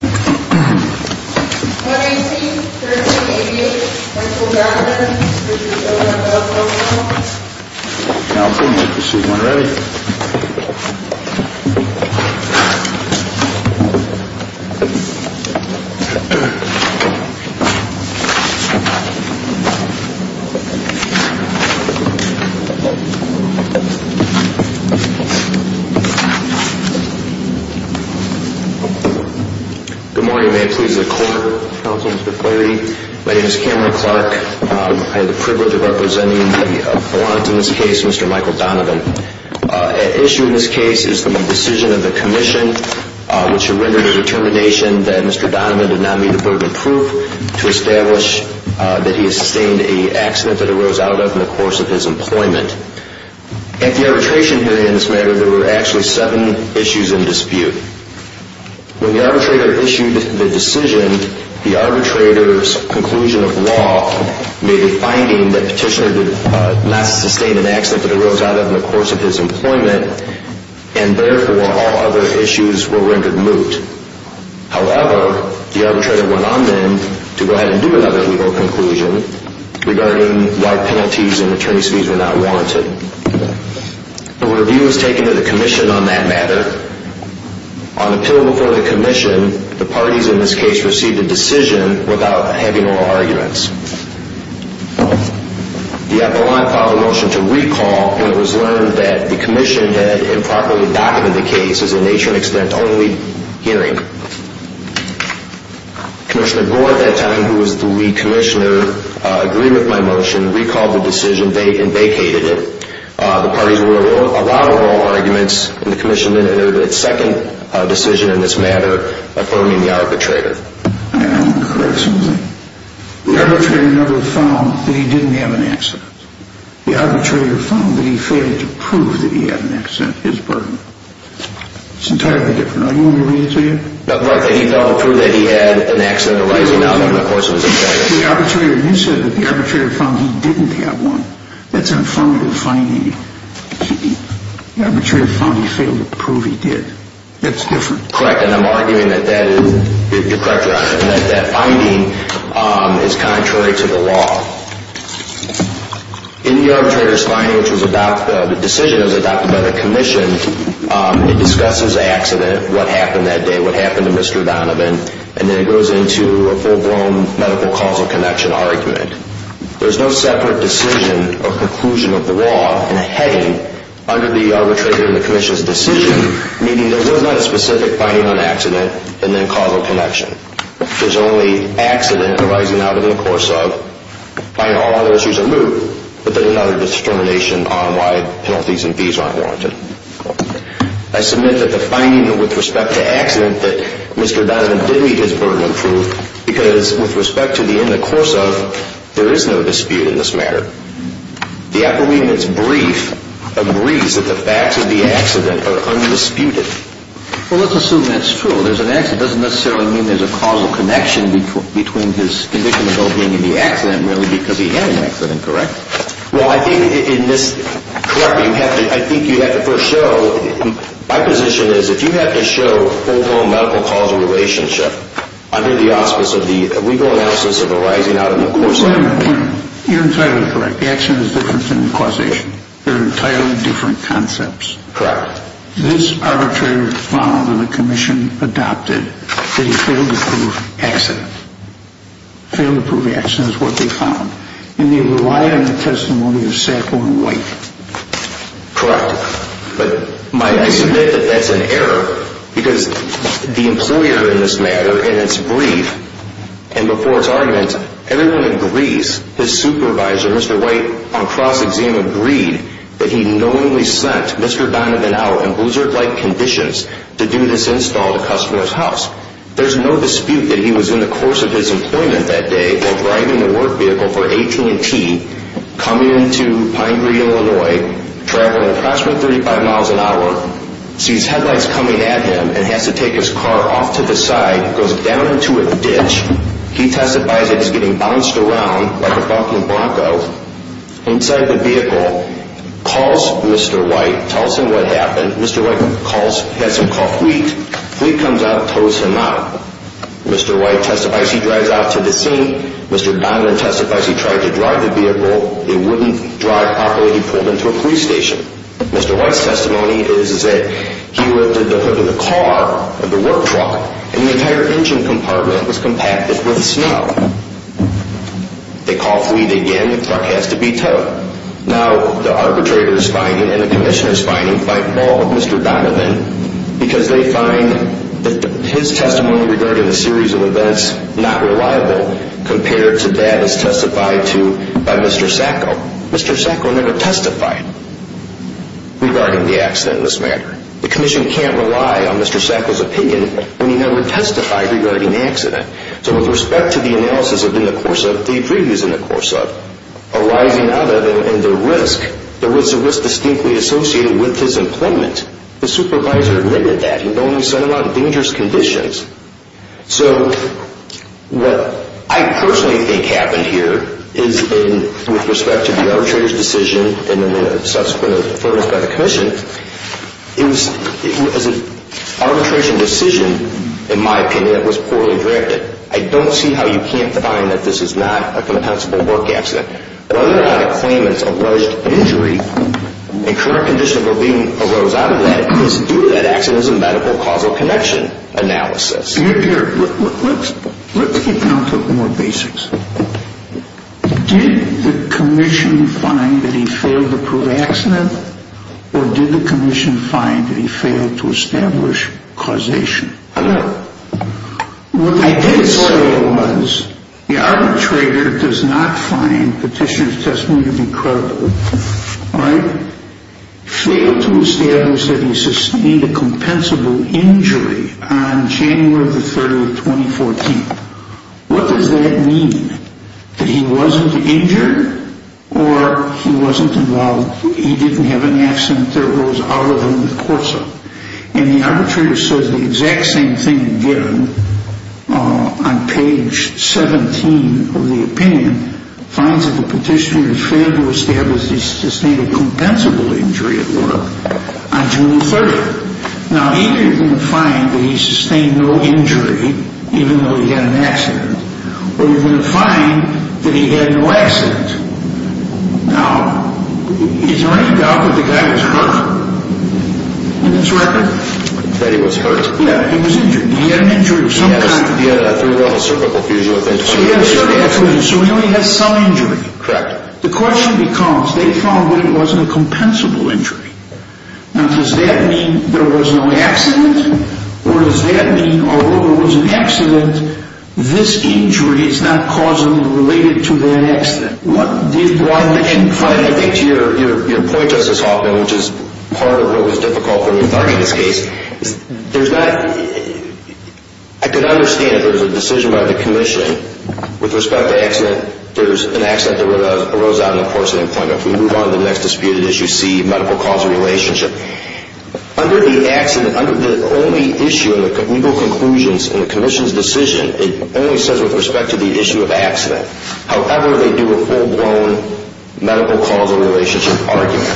The November Irwin Voice, Board Member. We need to make sure that Clearwater Commission desires absolute strawberries and not ranch or …a police commander's duty is supreme. Good morning, may it please the Court of Counsel, Mr. Clarity. My name is Cameron Clark. I have the privilege of representing the Blount in this case, Mr. Michael Donovan. At issue in this case is the decision of the Commission which rendered a determination that Mr. Donovan did not meet a burden of proof to establish that he sustained an accident that arose out of in the course of his employment. At the arbitration hearing in this matter, there were actually seven issues in dispute. When the arbitrator issued the decision, the arbitrator's conclusion of law may be finding that the petitioner did not sustain an accident that arose out of in the course of his employment and therefore all other issues were rendered moot. However, the arbitrator went on then to go ahead and do another legal conclusion regarding why penalties and attorney's fees were not warranted. A review was taken of the Commission on that matter. On appeal before the Commission, the parties in this case received a decision without having oral arguments. The Appellant filed a motion to recall when it was learned that the Commission had improperly documented the case as a nature and extent only hearing. Commissioner Gore at that time, who was the lead commissioner, agreed with my motion, recalled the decision and vacated it. The parties were allowed oral arguments and the Commission entered its second decision in this matter, affirming the arbitrator. I want to correct something. The arbitrator never found that he didn't have an accident. The arbitrator found that he failed to prove that he had an accident, his burden. It's entirely different. Do you want me to read it to you? He failed to prove that he had an accident arising out of the course of his employment. The arbitrator, you said that the arbitrator found that he didn't have one. That's an affirmative finding. The arbitrator found he failed to prove he did. That's different. Correct, and I'm arguing that that is, you're correct, Your Honor, that that finding is contrary to the law. In the arbitrator's finding, which was adopted, the decision was adopted by the Commission. It discusses the accident, what happened that day, what happened to Mr. Donovan, and then it goes into a full-blown medical causal connection argument. There's no separate decision or conclusion of the law in a heading under the arbitrator and the Commission's decision, meaning there was not a specific finding on accident and then causal connection. There's only accident arising out of the course of, finding all other issues are moot, but there's no other discrimination on why penalties and fees aren't warranted. I submit that the finding with respect to accident that Mr. Donovan did meet his burden of proof, because with respect to the in the course of, there is no dispute in this matter. The appellee in its brief agrees that the facts of the accident are undisputed. Well, let's assume that's true. There's an accident. It doesn't necessarily mean there's a causal connection between his condition about being in the accident, really, because he had an accident, correct? Well, I think in this, correctly, I think you have to first show, my position is if you have to show overall medical causal relationship under the auspice of the legal analysis of arising out of the course of. Wait a minute. You're entirely correct. The accident is different than the causation. They're entirely different concepts. Correct. This arbitrator found and the Commission adopted that he failed to prove accident. Failed to prove accident is what they found. And they relied on the testimony of Sacco and White. Correct. But might I submit that that's an error? Because the employer in this matter, in its brief, and before its arguments, everyone agrees. His supervisor, Mr. White, on cross-examined agreed that he knowingly sent Mr. Donovan out in loser-like conditions to do this install at a customer's house. There's no dispute that he was in the course of his employment that day, while driving a work vehicle for AT&T, coming into Pine Green, Illinois, traveling approximately 35 miles an hour, sees headlights coming at him, and has to take his car off to the side, goes down into a ditch. He testifies that he's getting bounced around like a bucking bronco. Inside the vehicle, calls Mr. White, tells him what happened. Mr. White calls, has him call Fleet. Fleet comes out, tows him out. Mr. White testifies he drives out to the scene. Mr. Donovan testifies he tried to drive the vehicle. It wouldn't drive properly. He pulled into a police station. Mr. White's testimony is that he lifted the hood of the car, of the work truck, and the entire engine compartment was compacted with snow. They call Fleet again. The truck has to be towed. Now, the arbitrator is finding, and the commissioner is finding, fight ball with Mr. Donovan, because they find that his testimony regarding a series of events not reliable compared to that as testified to by Mr. Sacco. Mr. Sacco never testified regarding the accident in this matter. The commission can't rely on Mr. Sacco's opinion when he never testified regarding the accident. So with respect to the analysis in the course of, the previews in the course of, arising out of and the risk, there was a risk distinctly associated with his employment. The supervisor admitted that. He only said about dangerous conditions. So what I personally think happened here is in, with respect to the arbitrator's decision, and then the subsequent affirmance by the commission, it was an arbitration decision, in my opinion, that was poorly directed. I don't see how you can't find that this is not a compensable work accident. Whether or not a claimant's alleged injury and current condition of well-being arose out of that is due to that accident as a medical causal connection analysis. Let's get down to more basics. Did the commission find that he failed to prove accident, or did the commission find that he failed to establish causation? Well, what they did say was the arbitrator does not find petitioner's testimony to be credible. All right? Failed to establish that he sustained a compensable injury on January the 30th, 2014. What does that mean? That he wasn't injured, or he wasn't involved, he didn't have an accident that arose out of him, of course. And the arbitrator says the exact same thing again on page 17 of the opinion, finds that the petitioner has failed to establish that he sustained a compensable injury at work on June the 30th. Now, either you're going to find that he sustained no injury, even though he had an accident, or you're going to find that he had no accident. Now, is there any doubt that the guy is hurt? In his record? That he was hurt? Yeah, he was injured. He had an injury of some kind. He had a three-level cervical fusion, I think. So he had a cervical fusion, so he only had some injury. Correct. The question becomes, they found that it wasn't a compensable injury. Now, does that mean there was no accident, or does that mean, although there was an accident, this injury is not causally related to that accident? One, I think to your point, Justice Hoffman, which is part of what was difficult for me in starting this case, there's not, I can understand if there's a decision by the commission with respect to accident, there's an accident that arose out of him, of course, in employment. If we move on to the next disputed issue, C, medical causal relationship, under the accident, under the only issue in the legal conclusions in the commission's decision, it only says with respect to the issue of accident. However, they do a full-blown medical causal relationship argument.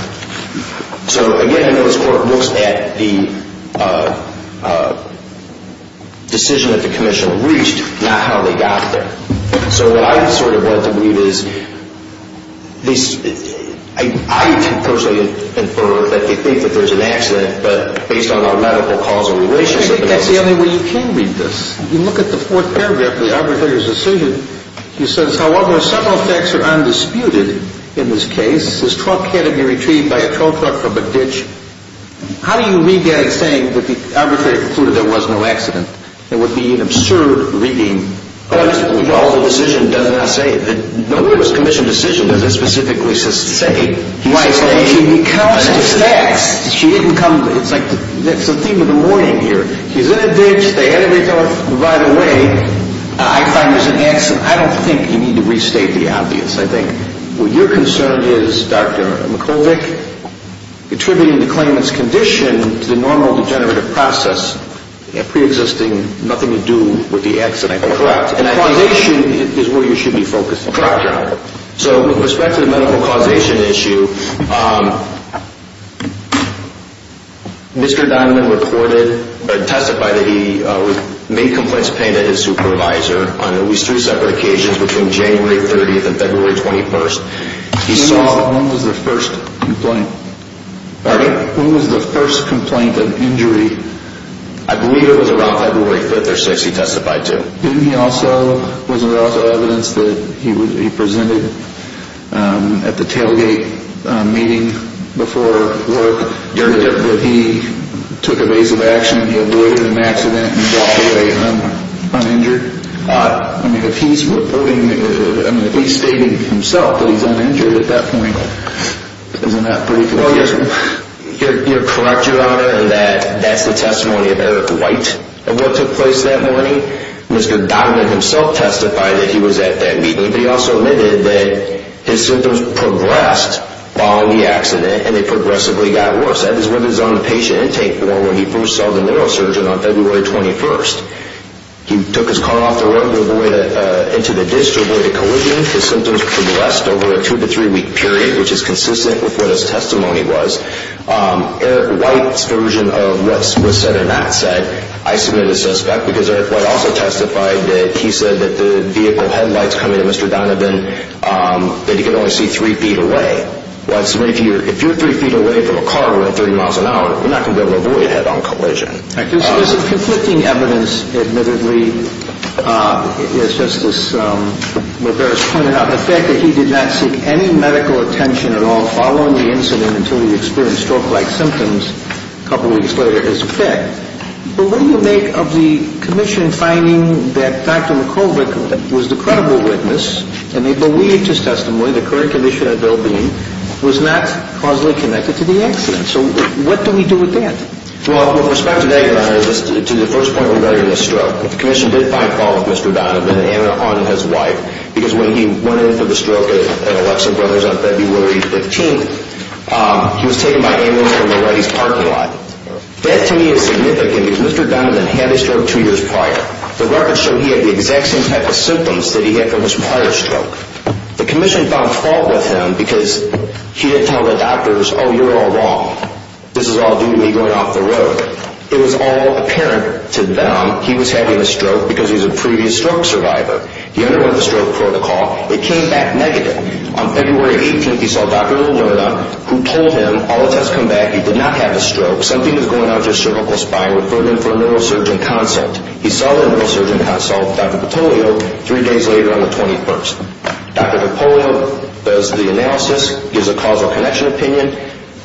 So, again, I know this Court looks at the decision that the commission reached, not how they got there. So what I sort of want to read is, I can personally infer that they think that there's an accident, but based on our medical causal relationship... I think that's the only way you can read this. If you look at the fourth paragraph of the arbitrator's decision, he says, however, several facts are undisputed in this case. This truck had to be retrieved by a tow truck from a ditch. How do you read that as saying that the arbitrator concluded there was no accident? It would be an absurd reading. Well, the decision does not say that. No, the commission decision doesn't specifically say. Why? Because of the facts. She didn't come, it's like, that's the theme of the morning here. He's in a ditch, they had to retrieve it right away. I find there's an accident. I don't think you need to restate the obvious. I think what you're concerned is, Dr. McCulloch, attributing the claimant's condition to the normal degenerative process, a preexisting nothing to do with the accident. Correct. And causation is where you should be focusing. Correct. So with respect to the medical causation issue, Mr. Donovan testified that he made complaints of pain to his supervisor on at least three separate occasions between January 30th and February 21st. When was the first complaint? Pardon? When was the first complaint of injury? I believe it was around February 5th or 6th he testified to. Wasn't there also evidence that he presented at the tailgate meeting before work, that he took evasive action, he avoided an accident and walked away uninjured? I mean, if he's stating himself that he's uninjured at that point, isn't that pretty confusing? You're correct, Your Honor, in that that's the testimony of Eric White. And what took place that morning? Mr. Donovan himself testified that he was at that meeting, but he also admitted that his symptoms progressed following the accident and they progressively got worse. That is what is on the patient intake form when he first saw the neurosurgeon on February 21st. He took his car off the road and went into the district where the collision was. His symptoms progressed over a two- to three-week period, which is consistent with what his testimony was. Eric White's version of what was said and not said, I submit as suspect, because Eric White also testified that he said that the vehicle headlights coming to Mr. Donovan, that he could only see three feet away. If you're three feet away from a car at 30 miles an hour, you're not going to be able to avoid a head-on collision. There's conflicting evidence, admittedly. It's just this, what Barry's pointed out, until he experienced stroke-like symptoms a couple of weeks later is a fact. But what do you make of the commission finding that Dr. McCulloch was the credible witness and they believed his testimony, the current condition of his well-being, was not causally connected to the accident? So what do we do with that? Well, with respect to that, Your Honor, to the first point regarding the stroke, the commission did find fault with Mr. Donovan and his wife, because when he went in for the stroke at Alexa Brothers on February 15th, he was taken by ambulance from a Reddy's parking lot. That, to me, is significant because Mr. Donovan had a stroke two years prior. The records show he had the exact same type of symptoms that he had from his prior stroke. The commission found fault with him because he didn't tell the doctors, oh, you're all wrong, this is all due to me going off the road. It was all apparent to them he was having a stroke because he's a previous stroke survivor. He underwent the stroke protocol. It came back negative. On February 18th, he saw Dr. Lilliana, who told him, all the tests come back, you did not have a stroke, something is going on with your cervical spine. Refer him for a neurosurgeon consult. He saw the neurosurgeon consult with Dr. DiPolio three days later on the 21st. Dr. DiPolio does the analysis, gives a causal connection opinion,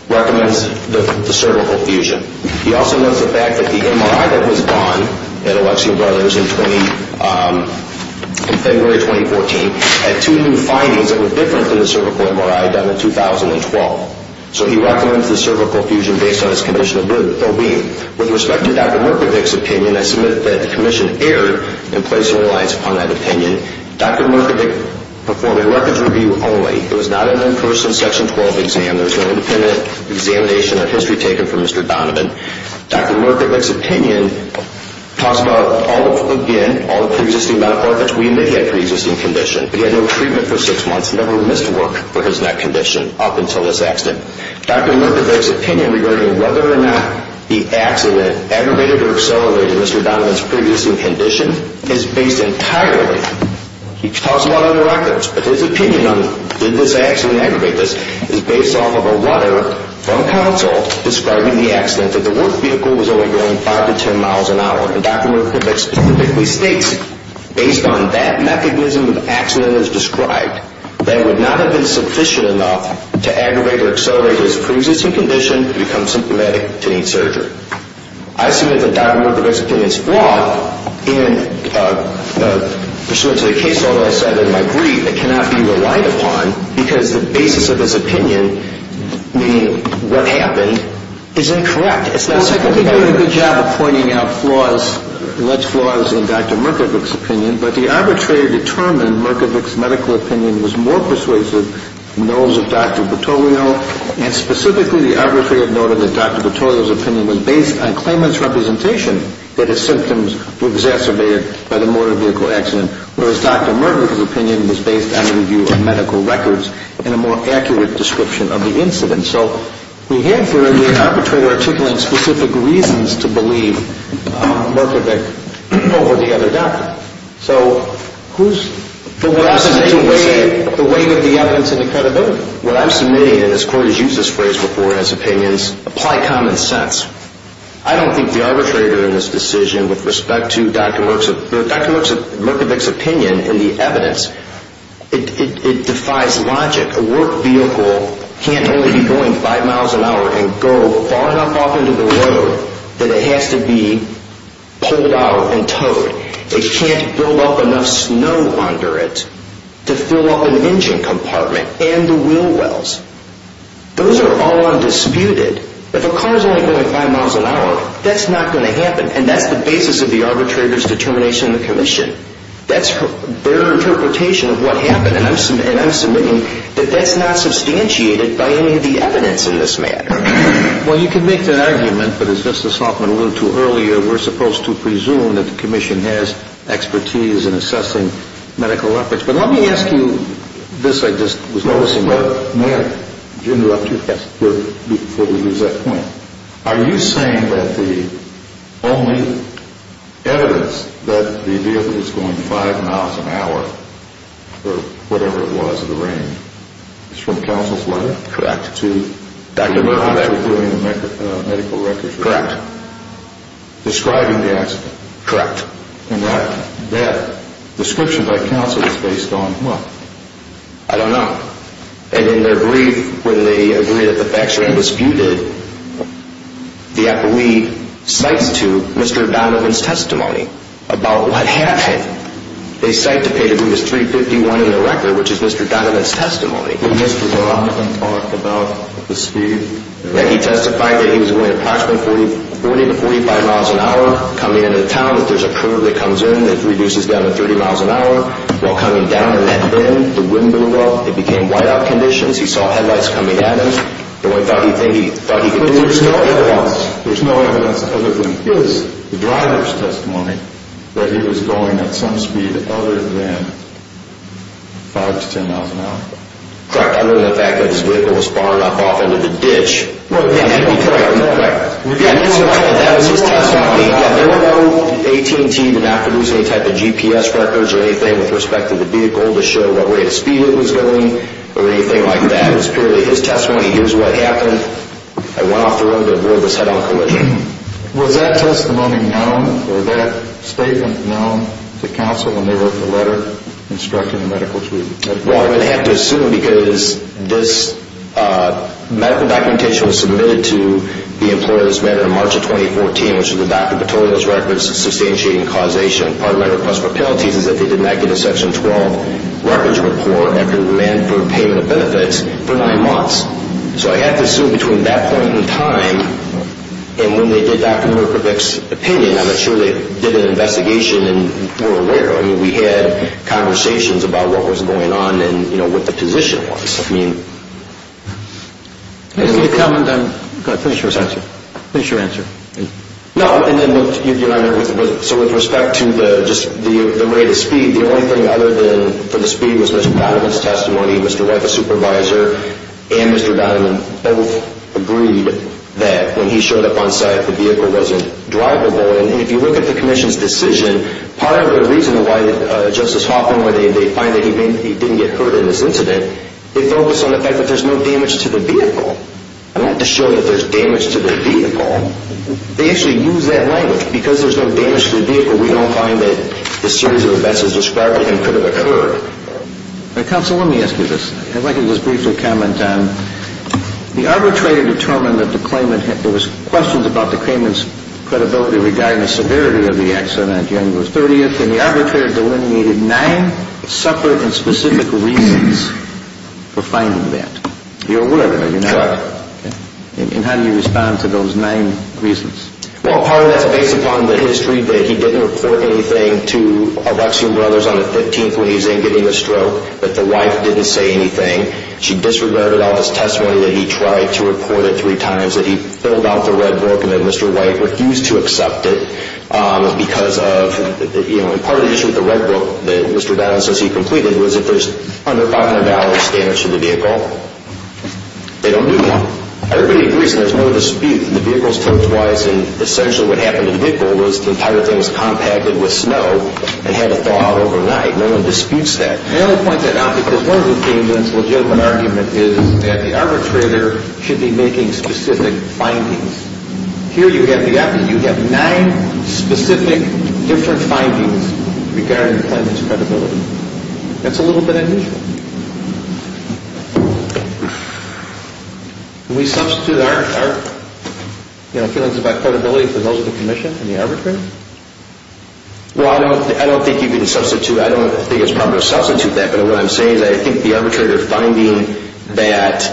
recommends the cervical fusion. He also knows the fact that the MRI that was done at Alexia Brothers in February 2014 had two new findings that were different to the cervical MRI done in 2012. So he recommends the cervical fusion based on his condition of well-being. With respect to Dr. Murkowicz's opinion, I submit that the commission erred in placing reliance upon that opinion. Dr. Murkowicz performed a records review only. It was not an in-person Section 12 exam. There was no independent examination or history taken from Mr. Donovan. Dr. Murkowicz's opinion talks about, again, all the pre-existing medical orifice. We may have a pre-existing condition, but he had no treatment for six months, never missed work for his neck condition up until this accident. Dr. Murkowicz's opinion regarding whether or not the accident aggravated or accelerated Mr. Donovan's pre-existing condition is based entirely, he talks about other records, but his opinion on did this accident aggravate this is based off of a letter from counsel describing the accident that the work vehicle was only going 5 to 10 miles an hour. And Dr. Murkowicz specifically states, based on that mechanism of accident as described, that it would not have been sufficient enough to aggravate or accelerate his pre-existing condition to become symptomatic to need surgery. I submit that Dr. Murkowicz's opinion is flawed. And pursuant to the case law that I said in my brief, it cannot be relied upon because the basis of his opinion, meaning what happened, is incorrect. It's not supported by evidence. Well, I think he did a good job of pointing out flaws, alleged flaws in Dr. Murkowicz's opinion, but the arbitrator determined Murkowicz's medical opinion was more persuasive than those of Dr. Petoglio, and specifically the arbitrator noted that Dr. Petoglio's opinion was based on claimant's representation that his symptoms were exacerbated by the motor vehicle accident, whereas Dr. Murkowicz's opinion was based on the review of medical records and a more accurate description of the incident. So we have here the arbitrator articulating specific reasons to believe Murkowicz over the other doctor. So who's... The weight of the evidence and the credibility. What I'm submitting, and this court has used this phrase before in its opinions, apply common sense. I don't think the arbitrator in this decision with respect to Dr. Murkowicz's opinion in the evidence, it defies logic. A work vehicle can't only be going five miles an hour and go far enough off into the road that it has to be pulled out and towed. It can't build up enough snow under it to fill up an engine compartment and the wheel wells. Those are all undisputed. If a car's only going five miles an hour, that's not going to happen, and that's the basis of the arbitrator's determination in the commission. That's their interpretation of what happened, and I'm submitting that that's not substantiated by any of the evidence in this matter. Well, you can make that argument, but as Justice Hoffman alluded to earlier, we're supposed to presume that the commission has expertise in assessing medical efforts. But let me ask you this I just was noticing. Mayor, may I interrupt you before we lose that point? Are you saying that the only evidence that the vehicle is going five miles an hour or whatever it was in the range is from counsel's letter? Correct. To Dr. Murkowicz's medical records? Correct. Describing the accident? Correct. And that description by counsel is based on what? I don't know. And in their brief, when they agreed that the facts were undisputed, the appellee cites to Mr. Donovan's testimony about what happened. They cite to page 351 in the record, which is Mr. Donovan's testimony. Did Mr. Donovan talk about the speed? He testified that he was going approximately 40 to 45 miles an hour coming into town. There's a curve that comes in that reduces down to 30 miles an hour. While coming down in that bend, the wind blew up. It became whiteout conditions. He saw headlights coming at him. The only thing he thought he could do was stop. There's no evidence other than his driver's testimony that he was going at some speed other than 5 to 10 miles an hour? Correct. Other than the fact that his vehicle was fired up off into the ditch? Correct. And that was his testimony. There were no AT&T that produced any type of GPS records or anything with respect to the vehicle to show what way of speed it was going or anything like that. It was purely his testimony. Here's what happened. I went off the road and the boy was head-on collision. Was that testimony known or that statement known to counsel when they wrote the letter instructing the medical team? Well, I'm going to have to assume because this medical documentation was submitted to the employers back in March of 2014, which is when Dr. Petorio's records substantiating causation. Part of my request for penalties is that they did not get a Section 12 records report after demand for payment of benefits for nine months. So I have to assume between that point in time and when they did Dr. Murkowicz's opinion, I'm not sure they did an investigation and were aware. I mean, we had conversations about what was going on and, you know, what the position was. I mean. Let me see the comment. I'm going to finish your answer. Finish your answer. No. So with respect to just the rate of speed, the only thing other than for the speed was Mr. Donovan's testimony. Mr. White, the supervisor, and Mr. Donovan both agreed that when he showed up on site, the vehicle wasn't drivable. And if you look at the commission's decision, part of the reason why Justice Hoffman, where they find that he didn't get hurt in this incident, they focus on the fact that there's no damage to the vehicle. I don't have to show you that there's damage to the vehicle. They actually use that language. Because there's no damage to the vehicle, we don't find that the series of events as described to him could have occurred. Counsel, let me ask you this. If I could just briefly comment. The arbitrator determined that there was questions about the claimant's credibility regarding the severity of the accident, January 30th, and the arbitrator delineated nine separate and specific reasons for finding that. You're aware of that, you're not? Correct. Okay. And how do you respond to those nine reasons? Well, part of that's based upon the history that he didn't report anything to Alexiou Brothers on the 15th when he was in getting a stroke, that the wife didn't say anything. She disregarded all his testimony that he tried to report it three times, that he filled out the red book and that Mr. White refused to accept it because of, you know, and part of the issue with the red book that Mr. Donovan says he completed was if there's under five and a half hours damage to the vehicle, they don't do that. Everybody agrees and there's no dispute. The vehicle was towed twice and essentially what happened to the vehicle was the entire thing was compacted with snow and had to thaw out overnight. No one disputes that. I only point that out because one of the claimant's legitimate argument is that the arbitrator should be making specific findings. Here you have nine specific different findings regarding the claimant's credibility. That's a little bit unusual. Can we substitute our feelings about credibility for those of the commission and the arbitrator? Well, I don't think you can substitute. I don't think it's proper to substitute that, but what I'm saying is I think the arbitrator finding that,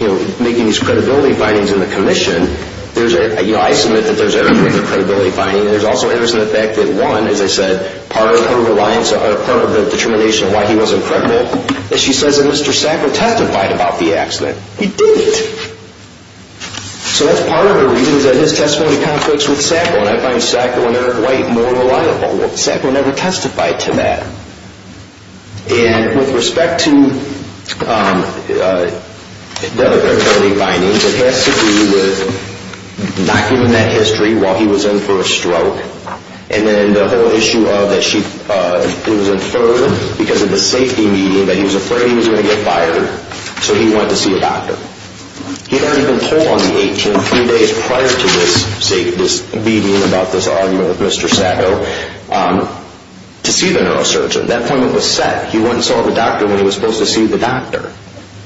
you know, making these credibility findings in the commission, there's a, you know, I submit that there's evidence of credibility finding. There's also evidence in the fact that one, as I said, part of her reliance or part of the determination of why he wasn't pregnant is she says that Mr. Sacco testified about the accident. He didn't. So that's part of the reasons that his testimony conflicts with Sacco's and I find Sacco and Eric White more reliable. Sacco never testified to that. And with respect to the other credibility findings, it has to do with not giving that history while he was in for a stroke and then the whole issue of that it was inferred because of the safety media that he was afraid he was going to get fired, so he went to see a doctor. He had already been told on the 18th, three days prior to this meeting about this argument with Mr. Sacco, to see the neurosurgeon. At that point it was set. He went and saw the doctor when he was supposed to see the doctor.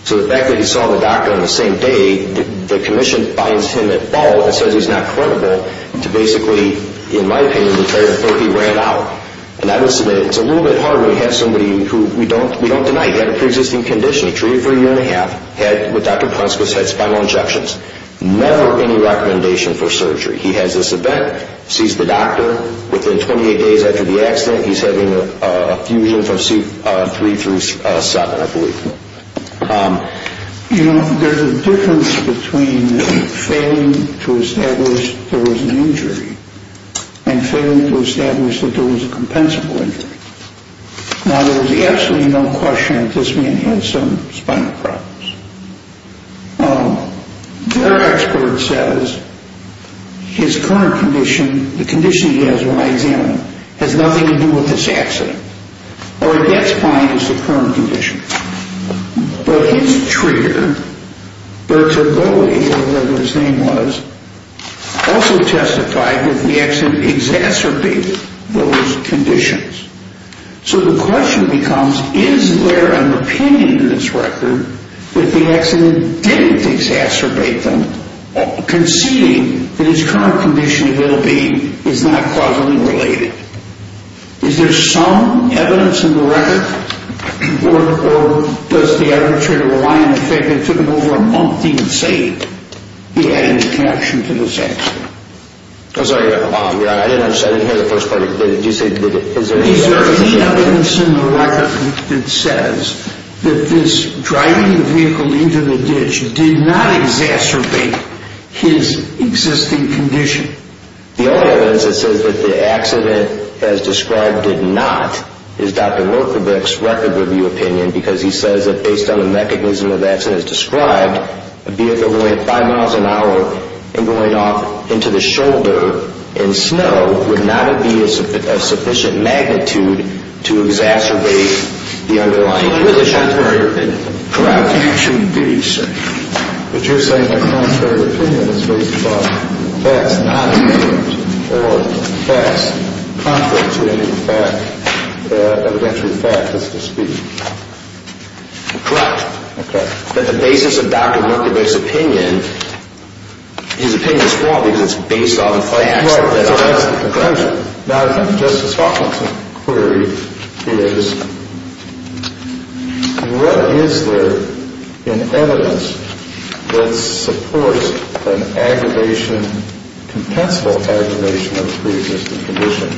So the fact that he saw the doctor on the same day, the commission finds him at fault and says he's not credible to basically, in my opinion, declare that he ran out. And I would submit it's a little bit hard when you have somebody who we don't deny. He had a preexisting condition. He treated for a year and a half. He had, with Dr. Prunskis, had spinal injections. Never any recommendation for surgery. He has this event, sees the doctor. Within 28 days after the accident, he's having a fusion from C3 through 7, I believe. You know, there's a difference between failing to establish there was an injury and failing to establish that there was a compensable injury. Now, there's absolutely no question that this man had some spinal problems. Their expert says his current condition, the condition he has when I examine him, has nothing to do with this accident. Or it gets fine as the current condition. But his treater, Bertragoli, or whatever his name was, also testified that the accident exacerbated those conditions. So the question becomes, is there an opinion in this record that the accident didn't exacerbate them, conceding that his current condition, it will be, is not causally related? Is there some evidence in the record? Or does the arbitrator rely on the fact that it took him over a month even to say he had any connection to this accident? I'm sorry, I didn't hear the first part of your question. Is there any evidence in the record that says that this driving the vehicle into the ditch did not exacerbate his existing condition? The only evidence that says that the accident, as described, did not, is Dr. Lerkovich's record review opinion, because he says that based on the mechanism of accidents described, a vehicle going at five miles an hour and going off into the shoulder in snow would not be of sufficient magnitude to exacerbate the underlying condition. That's my opinion. Correct. It should be, sir. But you're saying my contrary opinion is based upon facts not revealed or facts contrary to any fact, evidentiary fact, as to speak. Correct. But the basis of Dr. Lerkovich's opinion, his opinion is flawed because it's based on facts. Right, so that's the conclusion. Now, I think Justice Hawkinson's query is, what is there in evidence that supports an aggravation, compensable aggravation of the previous condition?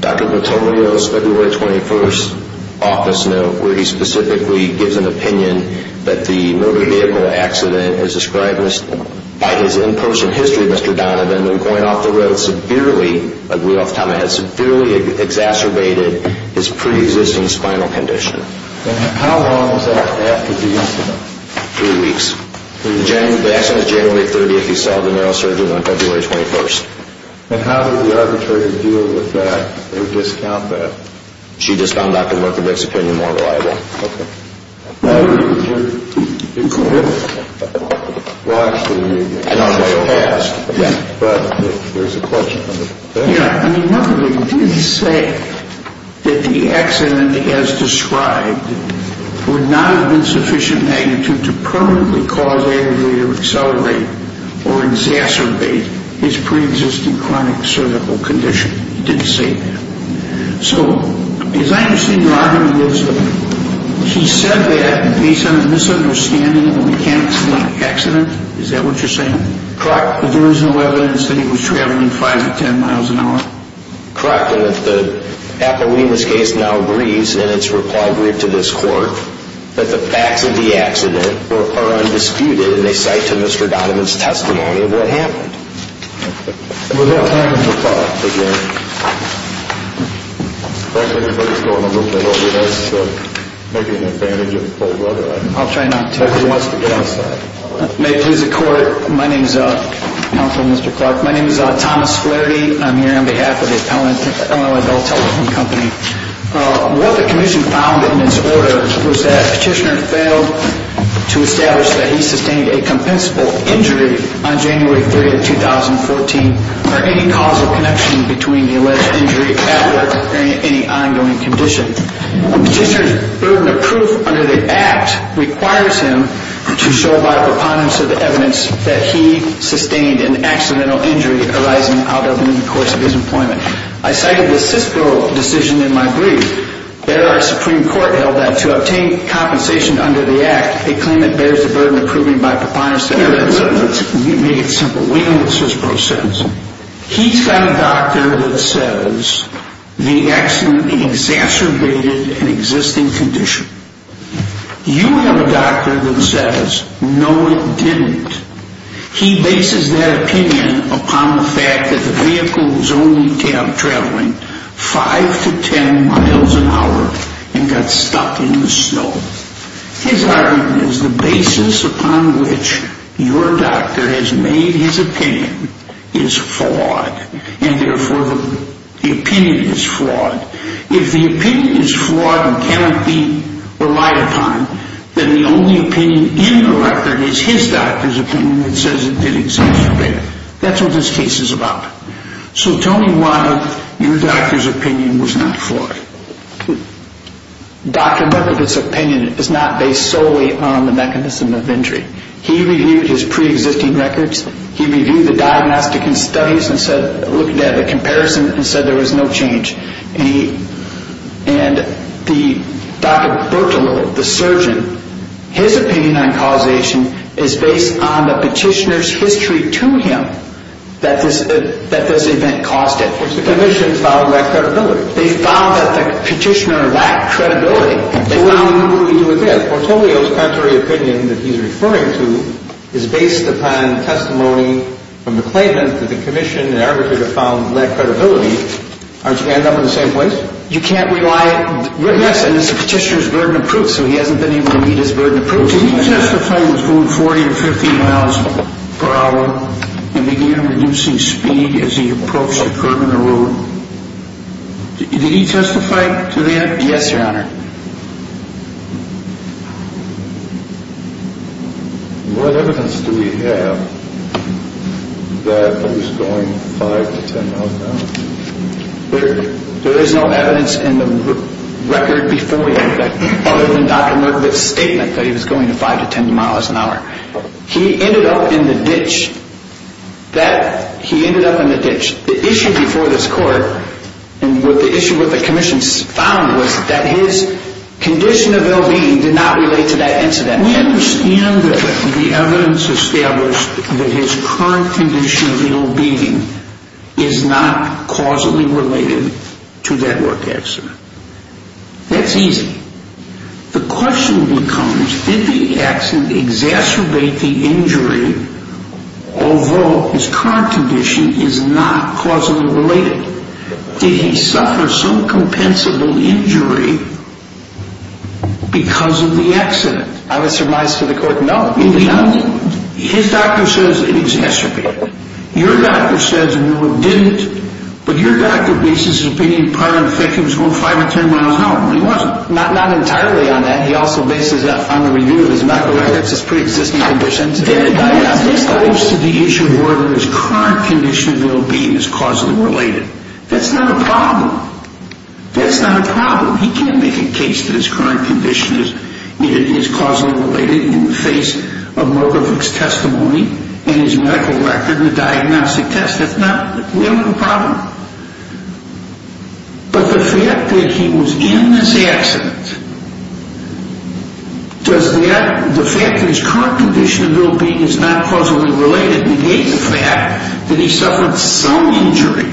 Dr. Notorious, February 21st, office note, where he specifically gives an opinion that the motor vehicle accident, as described by his in-person history, Mr. Donovan, when going off the road severely, like we off the top of my head, severely exacerbated his pre-existing spinal condition. And how long was that after the incident? Three weeks. The accident was January 30th. He saw the neurosurgeon on February 21st. And how did the arbitrator deal with that or discount that? She discounted Dr. Lerkovich's opinion more reliably. Okay. Well, actually, you may be able to say all that. But there's a question. Yeah, and another thing. Did he say that the accident, as described, would not have been sufficient magnitude to permanently cause the aggravator to accelerate or exacerbate his pre-existing chronic cervical condition? He didn't say that. So as I understand your argument is that he said that based on a misunderstanding of the mechanics of the accident? Is that what you're saying? Correct. There is no evidence that he was traveling 5 to 10 miles an hour? Correct. And if the appellee in this case now agrees, and it's required to this court, that the facts of the accident are undisputed, and they cite to Mr. Donovan's testimony of what happened. We'll have time for questions. If there's anybody that's going to move, it would be nice to make an advantage of the cold weather. I'll try not to. If anybody wants to get outside. May it please the Court, my name is Counselor Mr. Clark. My name is Thomas Flaherty. I'm here on behalf of the appellant at L.A. Bell Telephone Company. What the commission found in its order was that Petitioner failed to establish that he sustained a compensable injury on January 3, 2014 for any causal connection between the alleged injury at work or any ongoing condition. Petitioner's burden of proof under the act requires him to show by preponderance of the evidence that he sustained an accidental injury arising out of the course of his employment. I cited the CISPRO decision in my brief. There, our Supreme Court held that to obtain compensation under the act, a claimant bears the burden of proving by preponderance of evidence. Let's make it simple. We know what CISPRO says. He's got a doctor that says the accident exacerbated an existing condition. You have a doctor that says no, it didn't. He bases that opinion upon the fact that the vehicle was only traveling 5 to 10 miles an hour and got stuck in the snow. His argument is the basis upon which your doctor has made his opinion is flawed and therefore the opinion is flawed. If the opinion is flawed and cannot be relied upon, then the only opinion in the record is his doctor's opinion that says it did exacerbate it. That's what this case is about. So tell me why your doctor's opinion was not flawed. Dr. Berthelot's opinion is not based solely on the mechanism of injury. He reviewed his pre-existing records. He reviewed the diagnostic and studies and looked at the comparison and said there was no change. And Dr. Berthelot, the surgeon, his opinion on causation is based on the petitioner's history to him that this event caused it. Which the commission found lacked credibility. They found that the petitioner lacked credibility. Portolio's contrary opinion that he's referring to is based upon testimony from the claimant that the commission and arbitrator found lacked credibility. Aren't you going to end up in the same place? You can't rely on the petitioner's burden of proof, so he hasn't been able to meet his burden of proof. Did he testify to the 40 or 50 miles per hour and began reducing speed as he approached the curb in the road? Did he testify to that? Yes, Your Honor. What evidence do we have that he was going 5 to 10 miles an hour? There is no evidence in the record before we have that other than Dr. Norkovic's statement that he was going 5 to 10 miles an hour. He ended up in the ditch. He ended up in the ditch. The issue before this court and what the commission found was that his condition of ill-being did not relate to that incident. We understand that the evidence established that his current condition of ill-being is not causally related to that work accident. That's easy. The question becomes, did the accident exacerbate the injury, although his current condition is not causally related? Did he suffer some compensable injury because of the accident? I would surmise to the court, no. His doctor says it exacerbated it. Your doctor says, no, it didn't. But your doctor makes his opinion prior to the fact that he was going 5 to 10 miles an hour. He wasn't. Not entirely on that. He also bases that on the review of his medical records, his pre-existing conditions. This goes to the issue of whether his current condition of ill-being is causally related. That's not a problem. That's not a problem. He can't make a case that his current condition is causally related in the face of Norkovic's testimony and his medical record and the diagnostic test. That's not really a problem. But the fact that he was in this accident, does that, the fact that his current condition of ill-being is not causally related, negates the fact that he suffered some injury.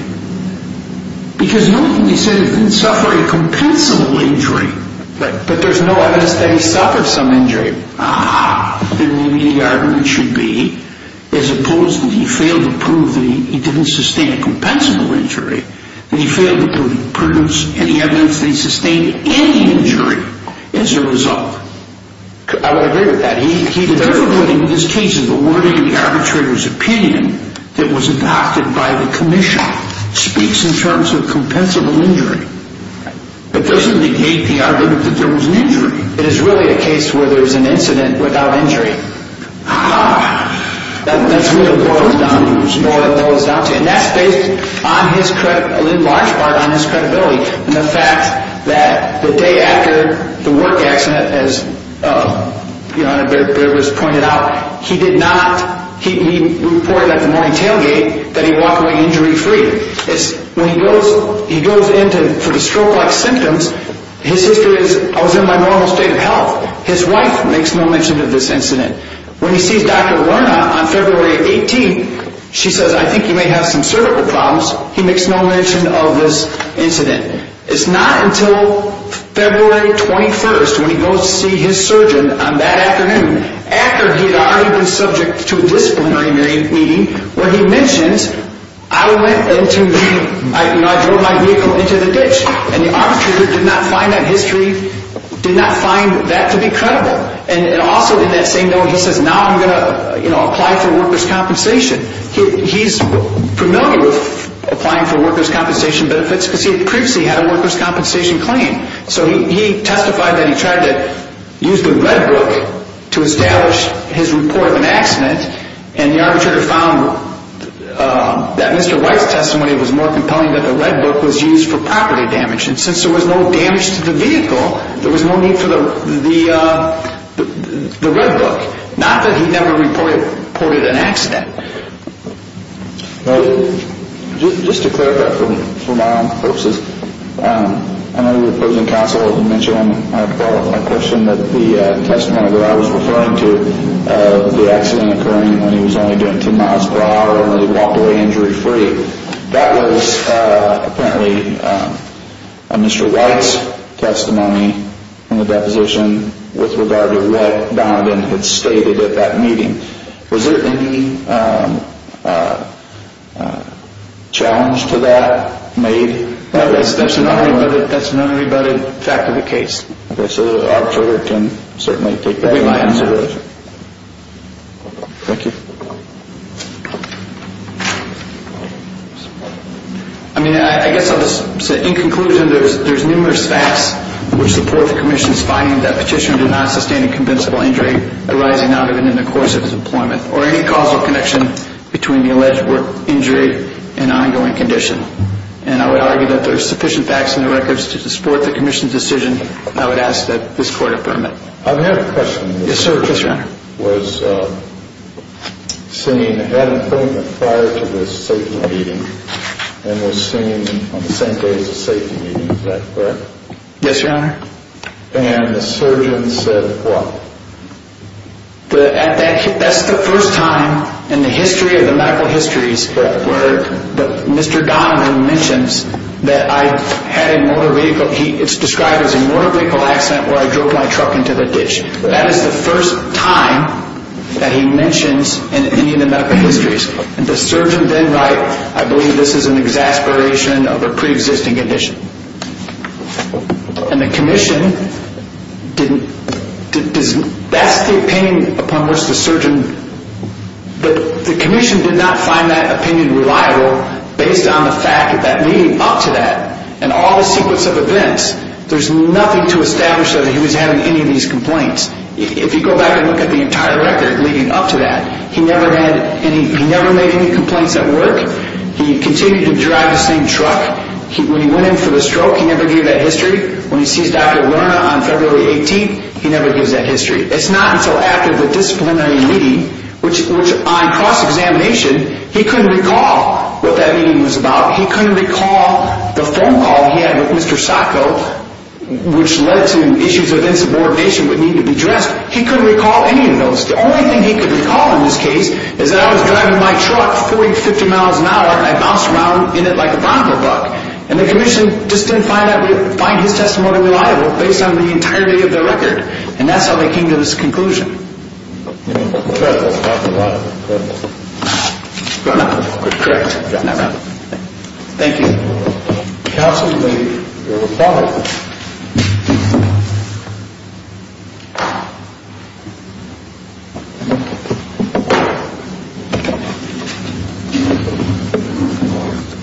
Because Norkovic said he didn't suffer a compensable injury. But there's no evidence that he suffered some injury. Then maybe the argument should be, as opposed to he failed to prove that he didn't sustain a compensable injury, that he failed to produce any evidence that he sustained any injury as a result. I would agree with that. In this case, the wording of the arbitrator's opinion that was adopted by the commission speaks in terms of compensable injury. It doesn't negate the argument that there was an injury. It is really a case where there was an incident without injury. That's really what it boils down to. And that's based on his, in large part, on his credibility. And the fact that the day after the work accident, as your Honor, Barabas pointed out, he did not, he reported at the morning tailgate that he walked away injury-free. When he goes in for the stroke-like symptoms, his history is, I was in my normal state of health. His wife makes no mention of this incident. When he sees Dr. Werner on February 18th, she says, I think you may have some cervical problems. He makes no mention of this incident. It's not until February 21st when he goes to see his surgeon on that afternoon, after he had already been subject to a disciplinary meeting, where he mentions, I went into the, I drove my vehicle into the ditch. And the arbitrator did not find that history, did not find that to be credible. And also in that same note, he says, now I'm going to apply for workers' compensation. He's familiar with applying for workers' compensation benefits because he previously had a workers' compensation claim. So he testified that he tried to use the Red Book to establish his report of an accident, and the arbitrator found that Mr. White's testimony was more compelling that the Red Book was used for property damage. And since there was no damage to the vehicle, there was no need for the Red Book. Not that he never reported an accident. Just to clarify for my own purposes, I know you're opposing counsel, to mention my question that the testimony that I was referring to, of the accident occurring when he was only doing 10 miles per hour, and when he walked away injury-free, that was apparently a Mr. White's testimony in the deposition with regard to what Donovan had stated at that meeting. Was there any challenge to that made? That's an unrebutted fact of the case. Okay, so the arbitrator can certainly take that into consideration. Thank you. I mean, I guess I'll just say, in conclusion, there's numerous facts which support the Commission's finding that Petitioner did not sustain a convincible injury arising out of and in the course of his employment, or any causal connection between the alleged injury and ongoing condition. And I would argue that there's sufficient facts in the records to support the Commission's decision, and I would ask that this Court affirm it. I have a question. Yes, sir. Yes, Your Honor. Was seeing Adam Fulton prior to this safety meeting, and was seen on the same day as the safety meeting, is that correct? Yes, Your Honor. And the surgeon said what? That's the first time in the history of the medical histories that Mr. Donovan mentions that I had a motor vehicle. It's described as a motor vehicle accident where I drove my truck into the ditch. That is the first time that he mentions in any of the medical histories. And the surgeon then writes, I believe this is an exasperation of a preexisting condition. And the Commission didn't, that's the opinion upon which the surgeon, but the Commission did not find that opinion reliable based on the fact that leading up to that and all the sequence of events, there's nothing to establish that he was having any of these complaints. If you go back and look at the entire record leading up to that, he never made any complaints at work. He continued to drive the same truck. When he went in for the stroke, he never gave that history. When he sees Dr. Lerner on February 18th, he never gives that history. It's not until after the disciplinary meeting, which on cross-examination, he couldn't recall what that meeting was about. He couldn't recall the phone call he had with Mr. Sacco, which led to issues of insubordination that needed to be addressed. He couldn't recall any of those. The only thing he could recall in this case is that I was driving my truck 40, 50 miles an hour, and I bounced around in it like a volleyball buck, and the Commission just didn't find his testimony reliable based on the entirety of the record, and that's how they came to this conclusion. Thank you. Counsel, your reply.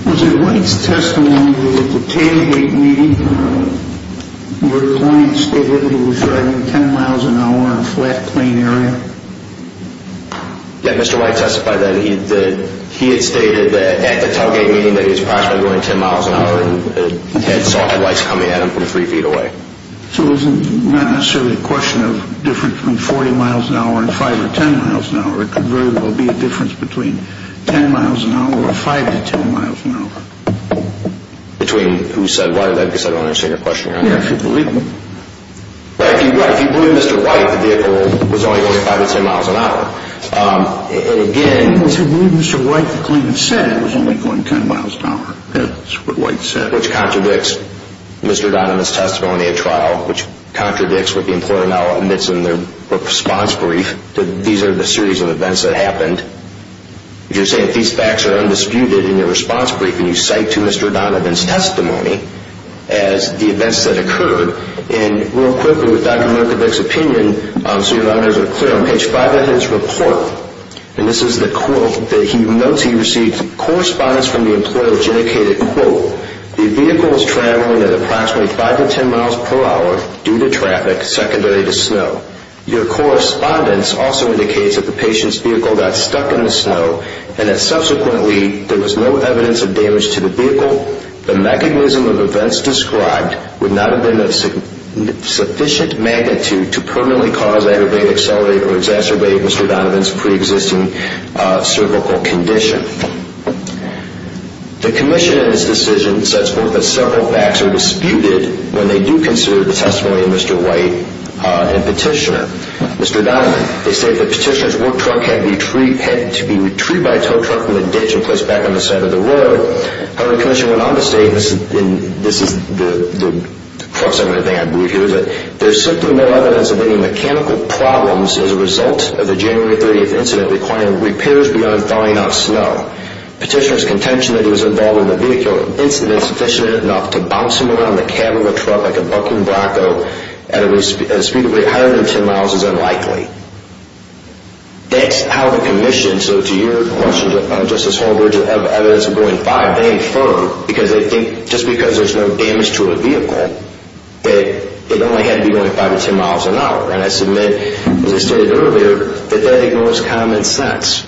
It was in White's testimony that at the 10-8 meeting, your client stated that he was driving 10 miles an hour in a flat, clean area. Yeah, Mr. White testified that he had stated that at the 10-8 meeting that he was approximately going 10 miles an hour and saw headlights coming at him from 3 feet away. So it wasn't necessarily a question of difference between 40 miles an hour and 5 or 10 miles an hour. It could very well be a difference between 10 miles an hour or 5 to 10 miles an hour. Between who said what? I guess I don't understand your question. Yeah, if you believe me. If you believe Mr. White, the vehicle was only going 5 to 10 miles an hour. And again, If you believe Mr. White, the claimant said it was only going 10 miles an hour. That's what White said. Which contradicts Mr. Donovan's testimony at trial, which contradicts what the employer now admits in their response brief. These are the series of events that happened. You're saying that these facts are undisputed in your response brief, and you cite to Mr. Donovan's testimony as the events that occurred. And real quickly, with Dr. Murkowicz's opinion, so your honors are clear, on page 5 of his report, and this is the quote that he notes he received, correspondence from the employer which indicated, quote, the vehicle was traveling at approximately 5 to 10 miles per hour due to traffic, secondary to snow. Your correspondence also indicates that the patient's vehicle got stuck in the snow and that subsequently there was no evidence of damage to the vehicle. The mechanism of events described would not have been of sufficient magnitude to permanently cause, aggravate, accelerate, or exacerbate Mr. Donovan's preexisting cervical condition. The commission in this decision says, quote, that several facts are disputed when they do consider the testimony of Mr. White and Petitioner. Mr. Donovan, they state that Petitioner's work truck had to be retrieved by a tow truck from the ditch and placed back on the side of the road. However, the commission went on to state, and this is the cross-segmented thing I believe here, that there's simply no evidence of any mechanical problems as a result of the January 30th incident requiring repairs beyond thawing off snow. Petitioner's contention that he was involved in the vehicle incident is sufficient enough to bounce him around the cab of a truck like a bucking bronco at a speed of 110 miles is unlikely. That's how the commission, so to your question, Justice Holbrook, to have evidence of going five, they affirm, because they think just because there's no damage to a vehicle that it only had to be going five to ten miles an hour. And I submit, as I stated earlier, that that ignores common sense.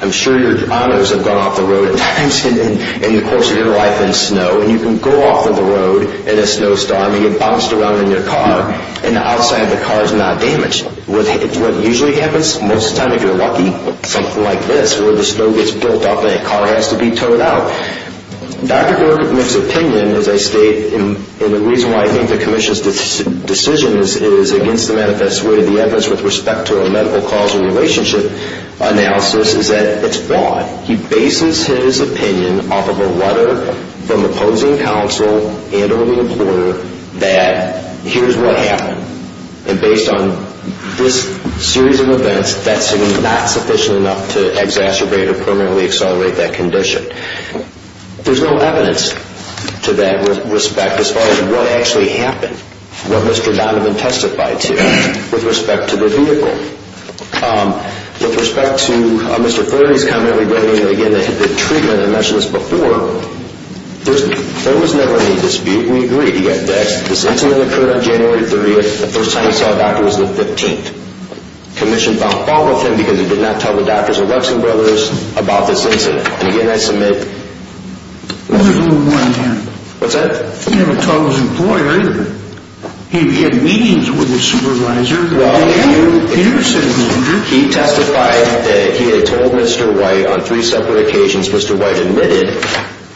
I'm sure your honors have gone off the road at times in the course of your life in snow, and you can go off of the road in a snowstorm and get bounced around in your car, and the outside of the car is not damaged. What usually happens most of the time, if you're lucky, something like this where the snow gets built up and a car has to be towed out. Dr. Borkman's opinion, as I state, and the reason why I think the commission's decision is against the manifest way and the evidence with respect to a medical causal relationship analysis is that it's flawed. He bases his opinion off of a letter from opposing counsel and or the employer that here's what happened, and based on this series of events, that's not sufficient enough to exacerbate or permanently accelerate that condition. There's no evidence to that respect as far as what actually happened, what Mr. Donovan testified to with respect to the vehicle. With respect to Mr. Flurry's comment regarding, again, the treatment. I mentioned this before. There was never any dispute. We agreed. This incident occurred on January 30th. The first time he saw a doctor was the 15th. Commission found fault with him because he did not tell the doctors or Lexington brothers about this incident. Again, I submit. Well, there's a little one here. What's that? He never told his employer either. He had meetings with his supervisor. He never said he was injured. He testified that he had told Mr. White on three separate occasions. Mr. White admitted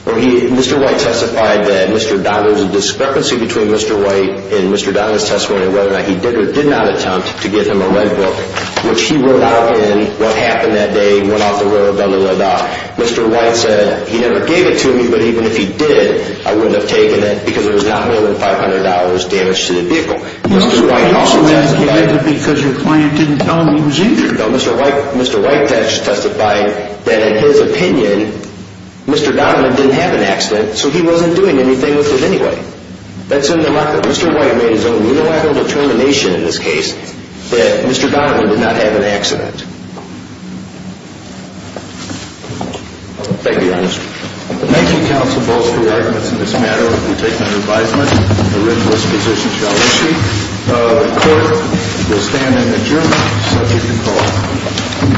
or Mr. White testified that Mr. Donovan's discrepancy between Mr. White and Mr. Donovan's testimony and whether or not he did or did not attempt to get him a leg book, Mr. White said he never gave it to me, but even if he did, I wouldn't have taken it because it was not more than $500 damage to the vehicle. Mr. White also testified that because your client didn't tell him he was injured. No, Mr. White testified that in his opinion, Mr. Donovan didn't have an accident, so he wasn't doing anything with it anyway. Mr. White made his own unilateral determination in this case that Mr. Donovan did not have an accident. Thank you, Your Honor. Thank you, counsel, both for your arguments in this matter. We take it under advisement that the ridiculous position shall be issued. The court will stand in adjournment. Subject to call.